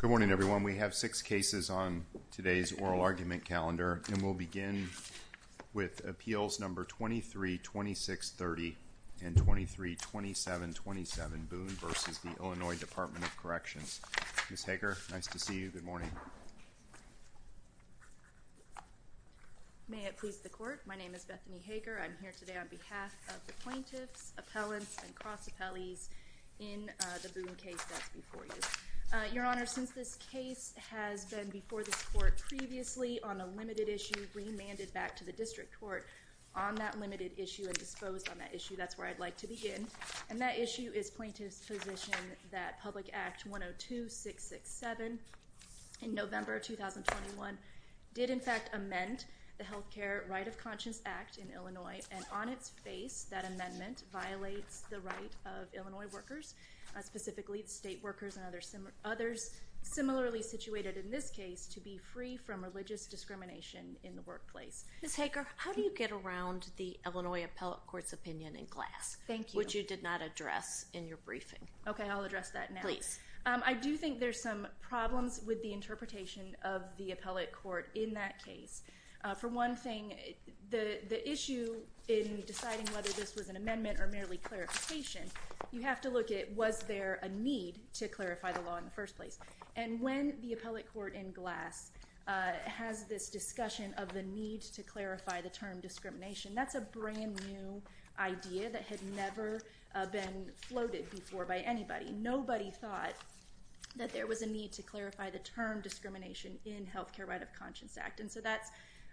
Good morning, everyone. We have six cases on today's oral argument calendar, and we'll begin with Appeals No. 23-2630 and 23-2727, Boone v. the Illinois Department of Corrections. Ms. Hager, nice to see you. Good morning. May it please the Court, my name is Bethany Hager. I'm here today on behalf of the plaintiffs, appellants, and cross-appellees in the Boone case that's before you. Your Honor, since this case has been before this Court previously on a limited issue, remanded back to the District Court on that limited issue and disposed on that issue, that's where I'd like to begin. And that issue is plaintiffs' position that Public Act 102-667 in November 2021 did in fact amend the Health Care Right of Conscience Act in Illinois, and on its face, that amendment violates the right of Illinois workers, specifically the state workers and others similarly situated in this case, to be free from religious discrimination in the workplace. Ms. Hager, how do you get around the Illinois Appellate Court's opinion in class, which you did not address in your briefing? Okay, I'll address that now. I do think there's some problems with the interpretation of the Appellate Court in that case. For one thing, the issue in deciding whether this was an amendment or merely clarification, you have to look at, was there a need to clarify the law in the first place? And when the Appellate Court in glass has this discussion of the need to clarify the term discrimination, that's a brand new idea that had never been floated before by anybody. Nobody thought that there was a need to clarify the term discrimination in Health Care Right of Conscience Act, and so that's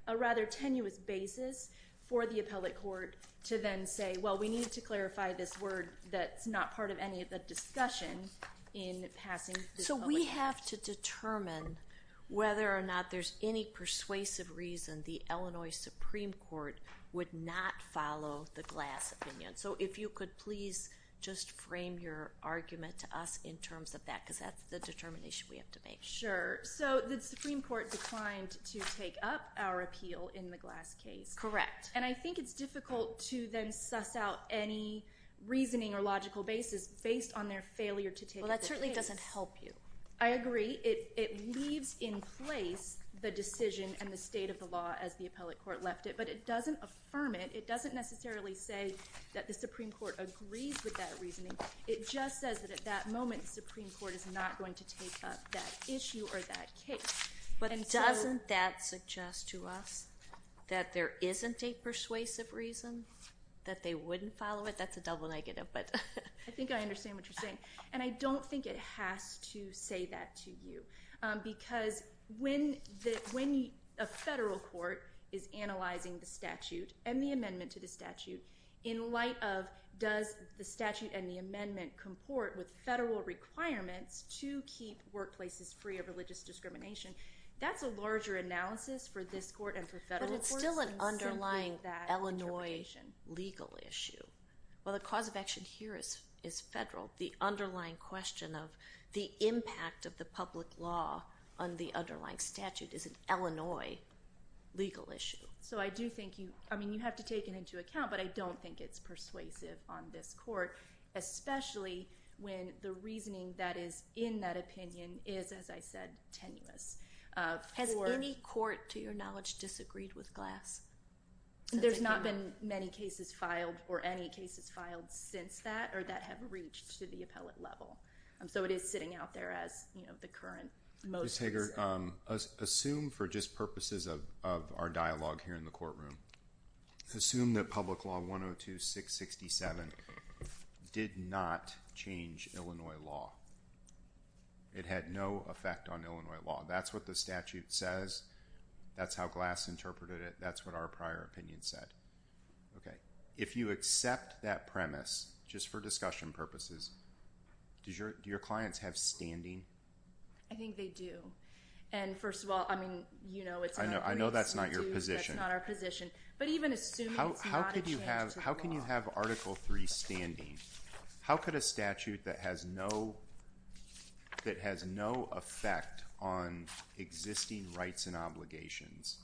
a rather tenuous basis for the Appellate Court to then say, well, we need to clarify this word that's not part of any of the discussion in passing this public hearing. So we have to determine whether or not there's any persuasive reason the Illinois Supreme Court would not follow the glass opinion. So if you could please just frame your argument to us in terms of that, because that's the determination we have to make. Sure. So the Supreme Court declined to take up our appeal in the glass case. Correct. And I think it's difficult to then suss out any reasoning or logical basis based on their failure to take up the case. Well, that certainly doesn't help you. I agree. It leaves in place the decision and the state of the law as the Appellate Court left it, but it doesn't affirm it. It doesn't necessarily say that the Supreme Court agrees with that reasoning. It just says that at that moment the Supreme Court is not going to take up that issue or that case. But doesn't that suggest to us that there isn't a persuasive reason that they wouldn't follow it? That's a double negative. I think I understand what you're saying. And I don't think it has to say that to you. Because when a federal court is analyzing the statute and the amendment to the statute in light of does the statute and the amendment comport with federal requirements to keep workplaces free of religious discrimination, that's a larger analysis for this court and for federal courts. But it's still an underlying Illinois legal issue. Well, the cause of action here is federal. The underlying question of the impact of the public law on the underlying statute is an Illinois legal issue. So I do think you have to take it into account, but I don't think it's persuasive on this court, especially when the reasoning that is in that opinion is, as I said, tenuous. Has any court, to your knowledge, disagreed with Glass? There's not been many cases filed or any cases filed since that or that have reached to the appellate level. So it is sitting out there as the current most recent. Ms. Hager, assume for just purposes of our dialogue here in the courtroom, assume that Public Law 102-667 did not change Illinois law. It had no effect on Illinois law. That's what the statute says. That's how Glass interpreted it. That's what our prior opinion said. If you accept that premise, just for discussion purposes, do your clients have standing? I think they do. And first of all, I mean, you know that's not your position. But even assuming it's not a change to the law. How can you have Article III standing? How could a statute that has no effect on existing rights and obligations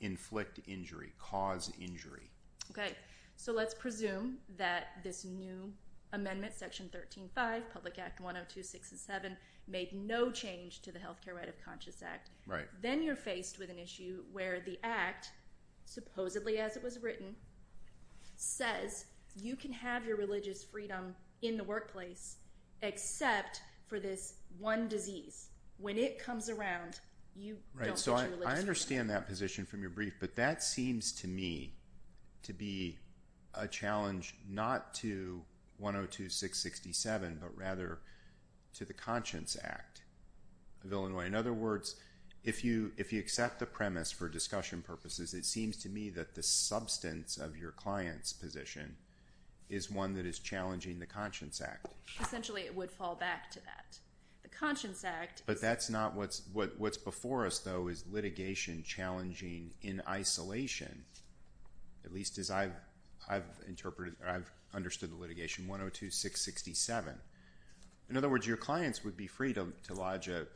inflict injury, cause injury? Okay. So let's presume that this new amendment, Section 13-5, Public Act 102-667, made no change to the Healthcare Right of Conscious Act. Then you're faced with an issue where the Act, supposedly as it was written, says you can have your religious freedom in the workplace except for this one disease. When it comes around, you don't get your religious freedom. Right. So I understand that position from your brief. But that seems to me to be a challenge not to 102-667, but rather to the Conscience Act of Illinois. In other words, if you accept the premise for discussion purposes, it seems to me that the substance of your client's position is one that is challenging the Conscience Act. Essentially it would fall back to that. The Conscience Act... But that's not what's before us, though, is litigation challenging in isolation. At least as I've understood the litigation, 102-667. In other words, your clients would be free to lodge a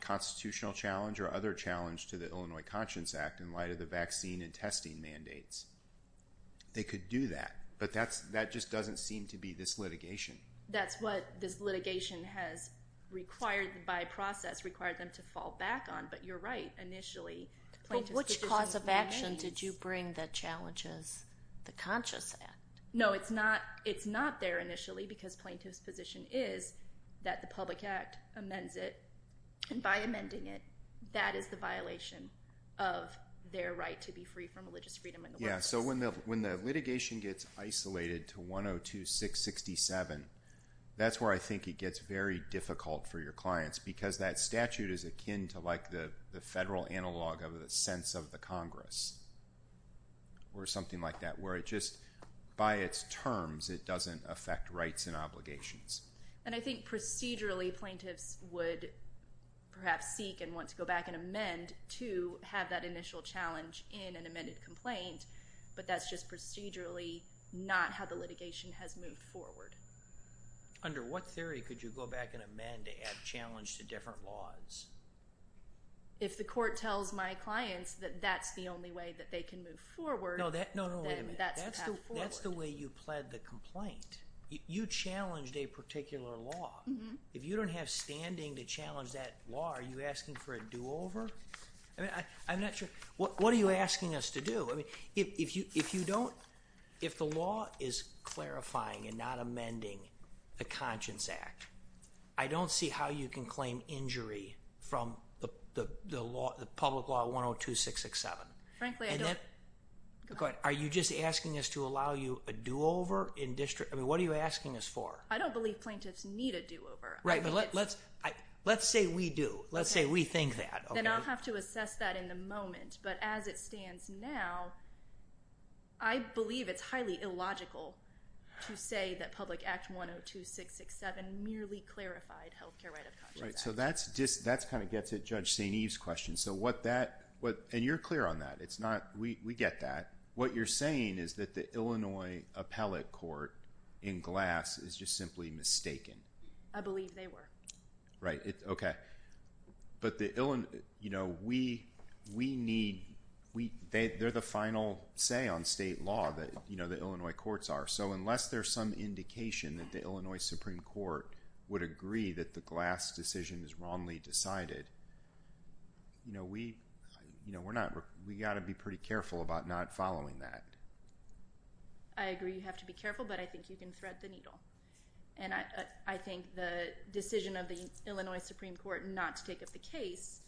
constitutional challenge or other challenge to the Illinois Conscience Act in light of the vaccine and testing mandates. They could do that. But that just doesn't seem to be this litigation. That's what this litigation has, by process, required them to fall back on. But you're right. Initially, plaintiff's position... But which cause of action did you bring that challenges the Conscience Act? No, it's not there initially because plaintiff's position is that the Public Act amends it. And by amending it, that is the violation of their right to be free from religious freedom in the workplace. Yeah, so when the litigation gets isolated to 102-667, that's where I think it gets very difficult for your clients because that statute is akin to like the federal analog of the sense of the Congress or something like that, where it just, by its terms, it doesn't affect rights and obligations. And I think procedurally, plaintiffs would perhaps seek and want to go back and amend to have that initial challenge in an amended complaint, but that's just procedurally not how the litigation has moved forward. Under what theory could you go back and amend to add challenge to different laws? If the court tells my clients that that's the only way that they can move forward, then that's the path forward. No, no, wait a minute. That's the way you pled the complaint. You challenged a particular law. If you don't have standing to challenge that law, are you asking for a do-over? I mean, I'm not sure. What are you asking us to do? I mean, if you don't, if the law is clarifying and not amending the Conscience Act, I don't see how you can claim injury from the public law 102-667. Frankly, I don't. Are you just asking us to allow you a do-over in district? I mean, what are you asking us for? I don't believe plaintiffs need a do-over. Right, but let's say we do. Let's say we think that. Then I'll have to assess that in a moment, but as it stands now, I believe it's highly illogical to say that Public Act 102-667 merely clarified Healthcare Right of Conscience Act. Right, so that's kind of gets at Judge St. Eve's question. So what that, and you're clear on that. It's not, we get that. What you're saying is that the Illinois Appellate Court in Glass is just simply mistaken. I believe they were. Right, okay. But the Illinois, you know, we need, they're the final say on state law that, you know, the Illinois courts are. So unless there's some indication that the Illinois Supreme Court would agree that the Glass decision is wrongly decided, you know, we, you know, we're not, we got to be pretty careful about not following that. I agree you have to be careful, but I think you can thread the needle. And I, I think the decision of the Illinois Supreme Court not to take up the case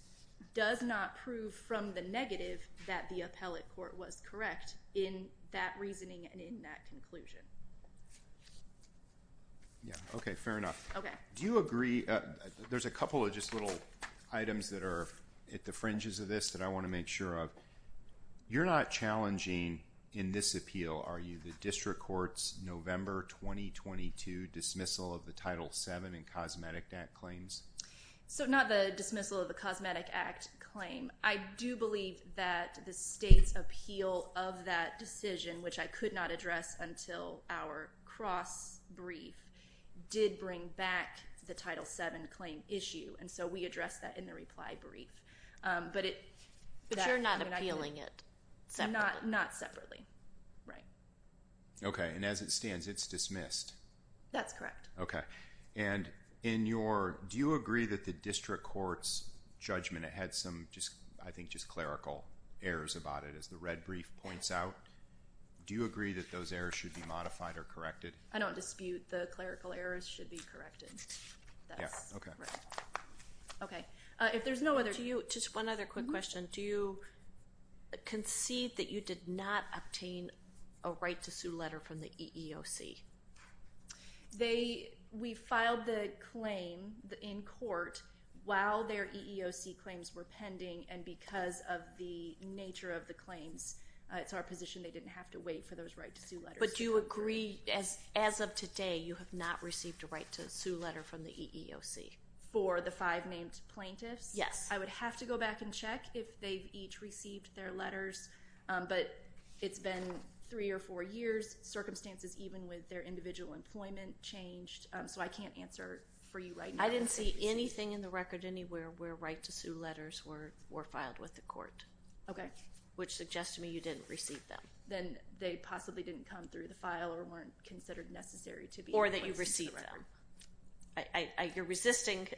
does not prove from the negative that the Appellate Court was correct in that reasoning and in that conclusion. Yeah, okay, fair enough. Okay. Do you agree, there's a couple of just little items that are at the fringes of this that I want to make sure of. You're not challenging, in this appeal, are you, the district court's November 2022 dismissal of the Title VII and Cosmetic Act claims? So not the dismissal of the Cosmetic Act claim. I do believe that the state's appeal of that decision, which I could not address until our cross-brief, did bring back the Title VII claim issue. And so, we addressed that in the reply brief. But it, but you're not appealing it separately. Not separately. Right. Okay. And as it stands, it's dismissed. That's correct. Okay. And in your, do you agree that the district court's judgment, it had some just, I think just clerical errors about it as the red brief points out. Do you agree that those errors should be modified or corrected? I don't dispute the clerical errors should be corrected. Yeah, okay. Okay. If there's no other, do you, just one other quick question. Do you concede that you did not obtain a right to sue letter from the EEOC? They, we filed the claim in court while their EEOC claims were pending and because of the nature of the claims, it's our position they didn't have to wait for those right to sue letters. But do you agree, as of today, you have not received a right to sue letter from the EEOC? For the five named plaintiffs? Yes. I would have to go back and check if they've each received their letters. But it's been three or four years. Circumstances even with their individual employment changed. So I can't answer for you right now. I didn't see anything in the record anywhere where right to sue letters were filed with the court. Okay. Which suggests to me you didn't receive them. Then they possibly didn't come through the file or weren't considered necessary to be. Or that you received them. I, you're resisting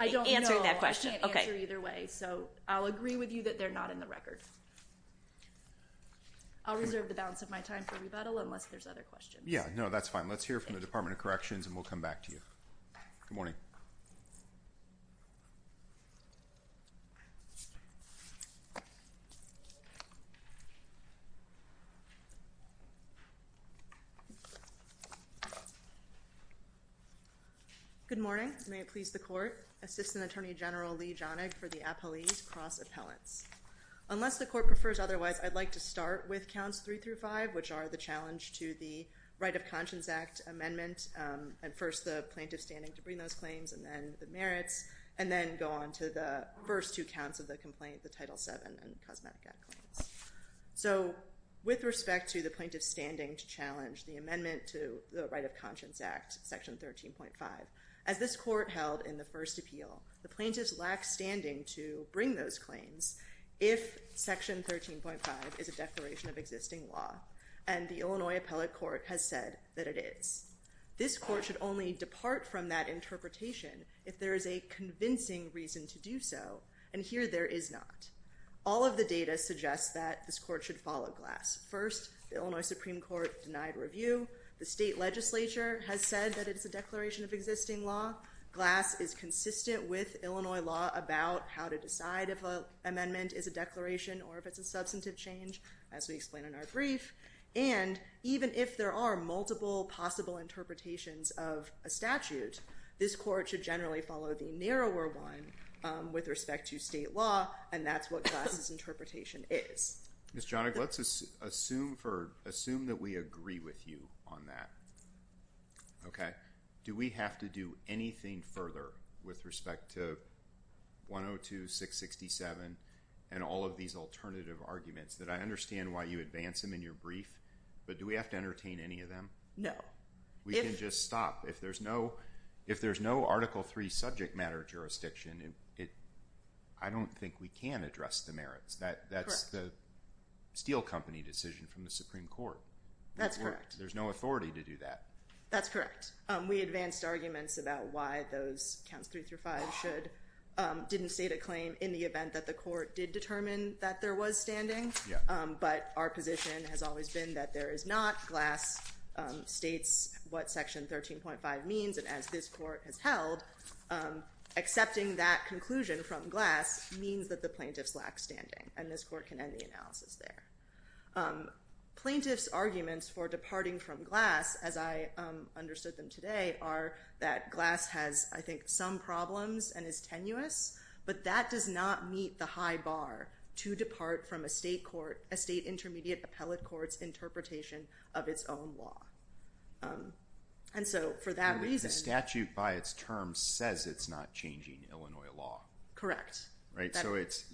answering that question. I don't know. I can't answer either way. So I'll agree with you that they're not in the record. I'll reserve the balance of my time for rebuttal unless there's other questions. Yeah, no, that's fine. Let's hear from the Department of Corrections and we'll come back to you. Good morning. Good morning. May it please the court. Assistant Attorney General Lee Jahnig for the Appellees Cross-Appellants. Unless the court prefers otherwise, I'd like to start with counts three through five, which are the challenge to the Right of Conscience Act amendment. And first the plaintiff standing to bring those claims and then the merits. And then go on to the first two counts of the complaint, the Title VII and Cosmetica claims. So with respect to the plaintiff standing to challenge the amendment to the Right of Conscience Act, Section 13.5, as this court held in the first appeal, the plaintiffs lack standing to bring those claims if Section 13.5 is a declaration of existing law. And the Illinois Appellate Court has said that it is. This court should only depart from that interpretation if there is a convincing reason to do so. And here there is not. All of the data suggests that this court should follow Glass. First, the Illinois Supreme Court denied review. The state legislature has said that it is a declaration of existing law. Glass is consistent with Illinois law about how to decide if an amendment is a declaration or if it's a substantive change, as we explained in our brief. And even if there are multiple possible interpretations of a statute, this court should generally follow the narrower one with respect to state law, and that's what Glass's interpretation is. Miss Johnig, let's assume that we agree with you on that. Do we have to do anything further with respect to 102-667 and all of these alternative arguments? I understand why you advance them in your brief, but do we have to entertain any of them? No. We can just stop. If there's no Article III subject matter jurisdiction, I don't think we can address the merits. That's the steel company decision from the Supreme Court. That's correct. There's no authority to do that. That's correct. We advanced arguments about why those counts 3 through 5 didn't state a claim in the event that the court did determine that there was standing, but our position has always been that there is not. Glass states what Section 13.5 means, and as this court has held, accepting that conclusion from Glass means that the plaintiffs lack standing, and this court can end the analysis there. Plaintiffs' arguments for departing from Glass, as I understood them today, are that Glass has, I think, some problems and is tenuous, but that does not meet the high bar to depart from a state court, a state intermediate appellate court's interpretation of its own law. And so for that reason... The statute by its terms says it's not changing Illinois law. Correct. Right? So it's...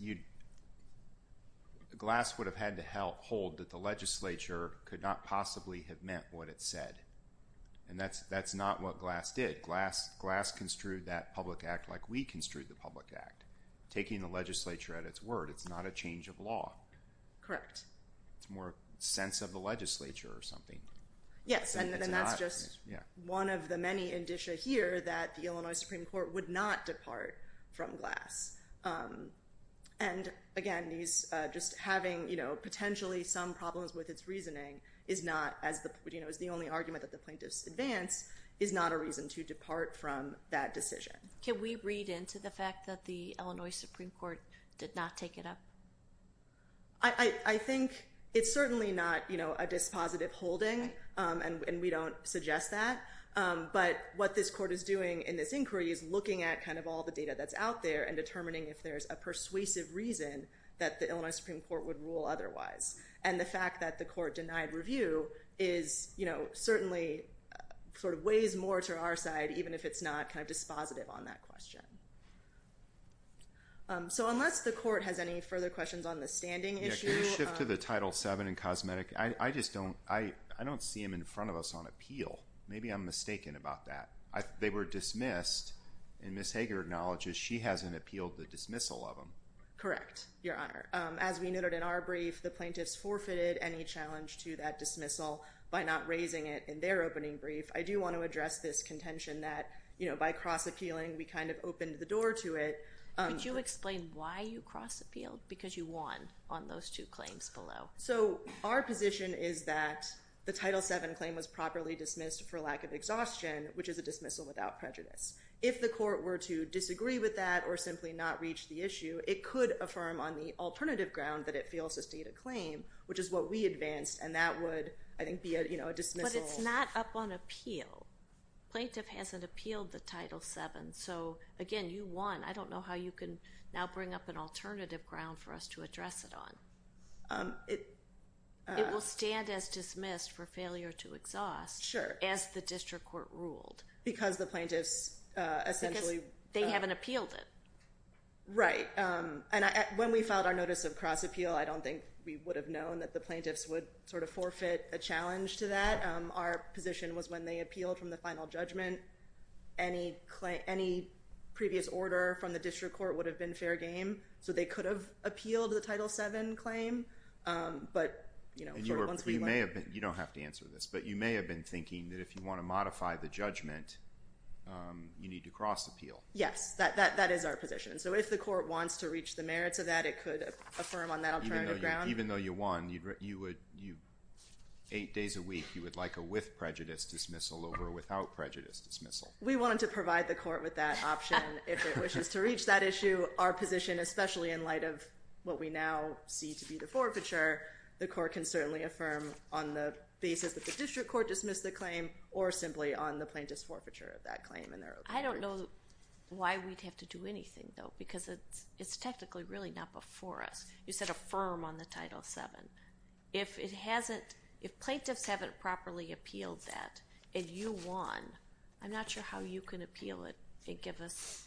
Glass would have had to hold that the legislature could not possibly have meant what it said, and that's not what Glass did. Glass construed that public act like we construed the public act, taking the legislature at its word. It's not a change of law. Correct. It's more a sense of the legislature or something. Yes, and then that's just one of the many indicia here that the Illinois Supreme Court would not depart from Glass. And again, these... Just having potentially some problems with its reasoning is not, as the only argument that the plaintiffs advance, is not a reason to depart from that decision. Can we read into the fact that the Illinois Supreme Court... I think it's certainly not a dispositive holding, and we don't suggest that, but what this court is doing in this inquiry is looking at all the data that's out there and determining if there's a persuasive reason that the Illinois Supreme Court would rule otherwise. And the fact that the court denied review is certainly sort of weighs more to our side, even if it's not dispositive on that question. So, unless the court has any further questions on the standing issue... Yeah, can we shift to the Title VII in cosmetic? I just don't... I don't see them in front of us on appeal. Maybe I'm mistaken about that. They were dismissed, and Ms. Hager acknowledges she hasn't appealed the dismissal of them. Correct, Your Honor. As we noted in our brief, the plaintiffs forfeited any challenge to that dismissal by not raising it in their opening brief. I do want to address this contention that by cross-appealing, we kind of open the door to it... Could you explain why you cross-appealed? Because you won on those two claims below. So, our position is that the Title VII claim was properly dismissed for lack of exhaustion, which is a dismissal without prejudice. If the court were to disagree with that or simply not reach the issue, it could affirm on the alternative ground that it fails to state a claim, which is what we advanced, and that would, I think, be a dismissal... It's not up on appeal. Plaintiff hasn't appealed the Title VII. So, again, you won. I don't know how you can now bring up an alternative ground for us to address it on. It will stand as dismissed for failure to exhaust, as the district court ruled. Because the plaintiffs essentially... Because they haven't appealed it. Right. And when we filed our notice of cross-appeal, I don't think we would have known that the plaintiffs would sort of forfeit a challenge to that. Our position was when they appealed from the final judgment, any previous order from the district court would have been fair game. So, they could have appealed the Title VII claim, but... You don't have to answer this, but you may have been thinking that if you want to modify the judgment, you need to cross-appeal. Yes, that is our position. So, if the court wants to reach the merits of that, it could affirm on that alternative ground. Even though you won, eight days a week, you would like a with prejudice dismissal over a without prejudice dismissal. We wanted to provide the court with that option if it wishes to reach that issue. Our position, especially in light of what we now see to be the forfeiture, the court can certainly affirm on the basis that the district court dismissed the claim or simply on the plaintiff's forfeiture of that claim in their opinion. I don't know why we'd have to do anything, though, because it's technically really not before us. You said affirm on the Title VII. If it hasn't... If plaintiffs haven't properly appealed that and you won, I'm not sure how you can appeal it and give us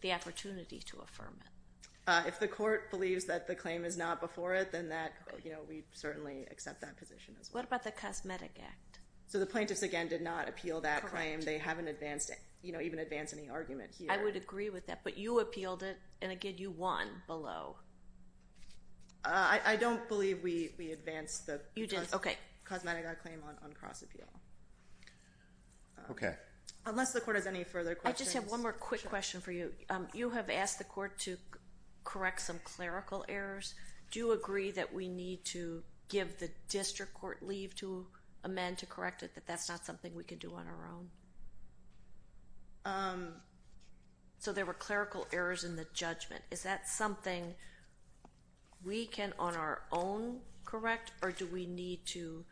the opportunity to affirm it. If the court believes that the claim is not before it, then we certainly accept that position as well. What about the Cosmetic Act? So, the plaintiffs, again, did not appeal that claim. They haven't even advanced any argument here. I would agree with that, but you appealed it, and again, you won below. I don't believe we advanced the Cosmetic Act claim on cross-appeal. Okay. Unless the court has any further questions... I just have one more quick question for you. You have asked the court to correct some clerical errors. Do you agree that we need to give the district court leave to amend to correct it, that that's not something we can do on our own? So, there were clerical errors in the judgment. Is that something we can on our own correct, or do we need to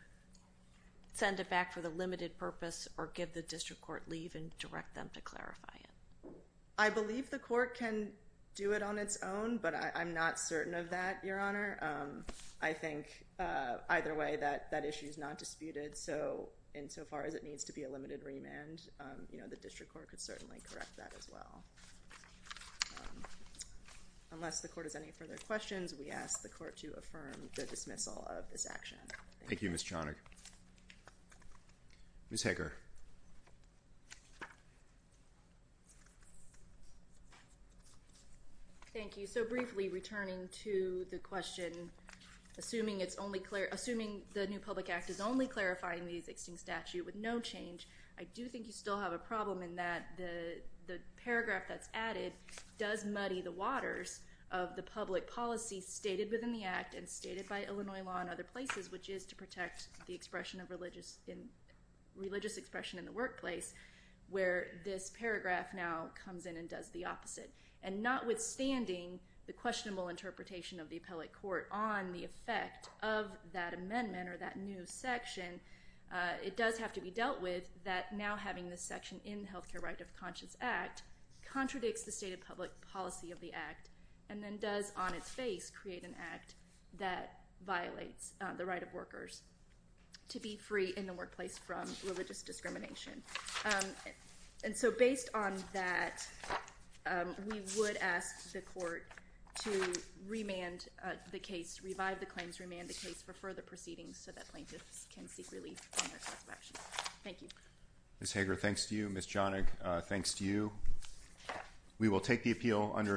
send it back for the limited purpose or give the district court leave and direct them to clarify it? I believe the court can do it on its own, but I'm not certain of that, Your Honor. I think either way, that issue is not disputed. So, insofar as it needs to be a limited remand, you know, the district court could certainly correct that as well. Unless the court has any further questions, we ask the court to affirm the dismissal of this action. Thank you. Thank you, Ms. Chonick. Ms. Hecker. Thank you. So, briefly, returning to the question, assuming it's only clear... Assuming the new public act is only clarifying the existing statute with no change, I do think you still have a problem in that the paragraph that's added does muddy the waters of the public policy stated within the act and stated by Illinois law in other places, which is to protect the expression of religious expression in the workplace, where this paragraph now comes in and does the opposite. And notwithstanding the questionable interpretation of the appellate court on the effect of that amendment or that new section, it does have to be dealt with that now having this section in the Health Care Right of Conscience Act contradicts the state of public policy of the act and then does on its face create an act that violates the right of workers to be free in the workplace from religious discrimination. And so, based on that, we would ask the court to remand the case, revive the claims, remand the case for further proceedings so that plaintiffs can seek relief from their course of action. Thank you. Ms. Hecker, thanks to you. Ms. Chonick, thanks to you. We will take the appeal under advisement.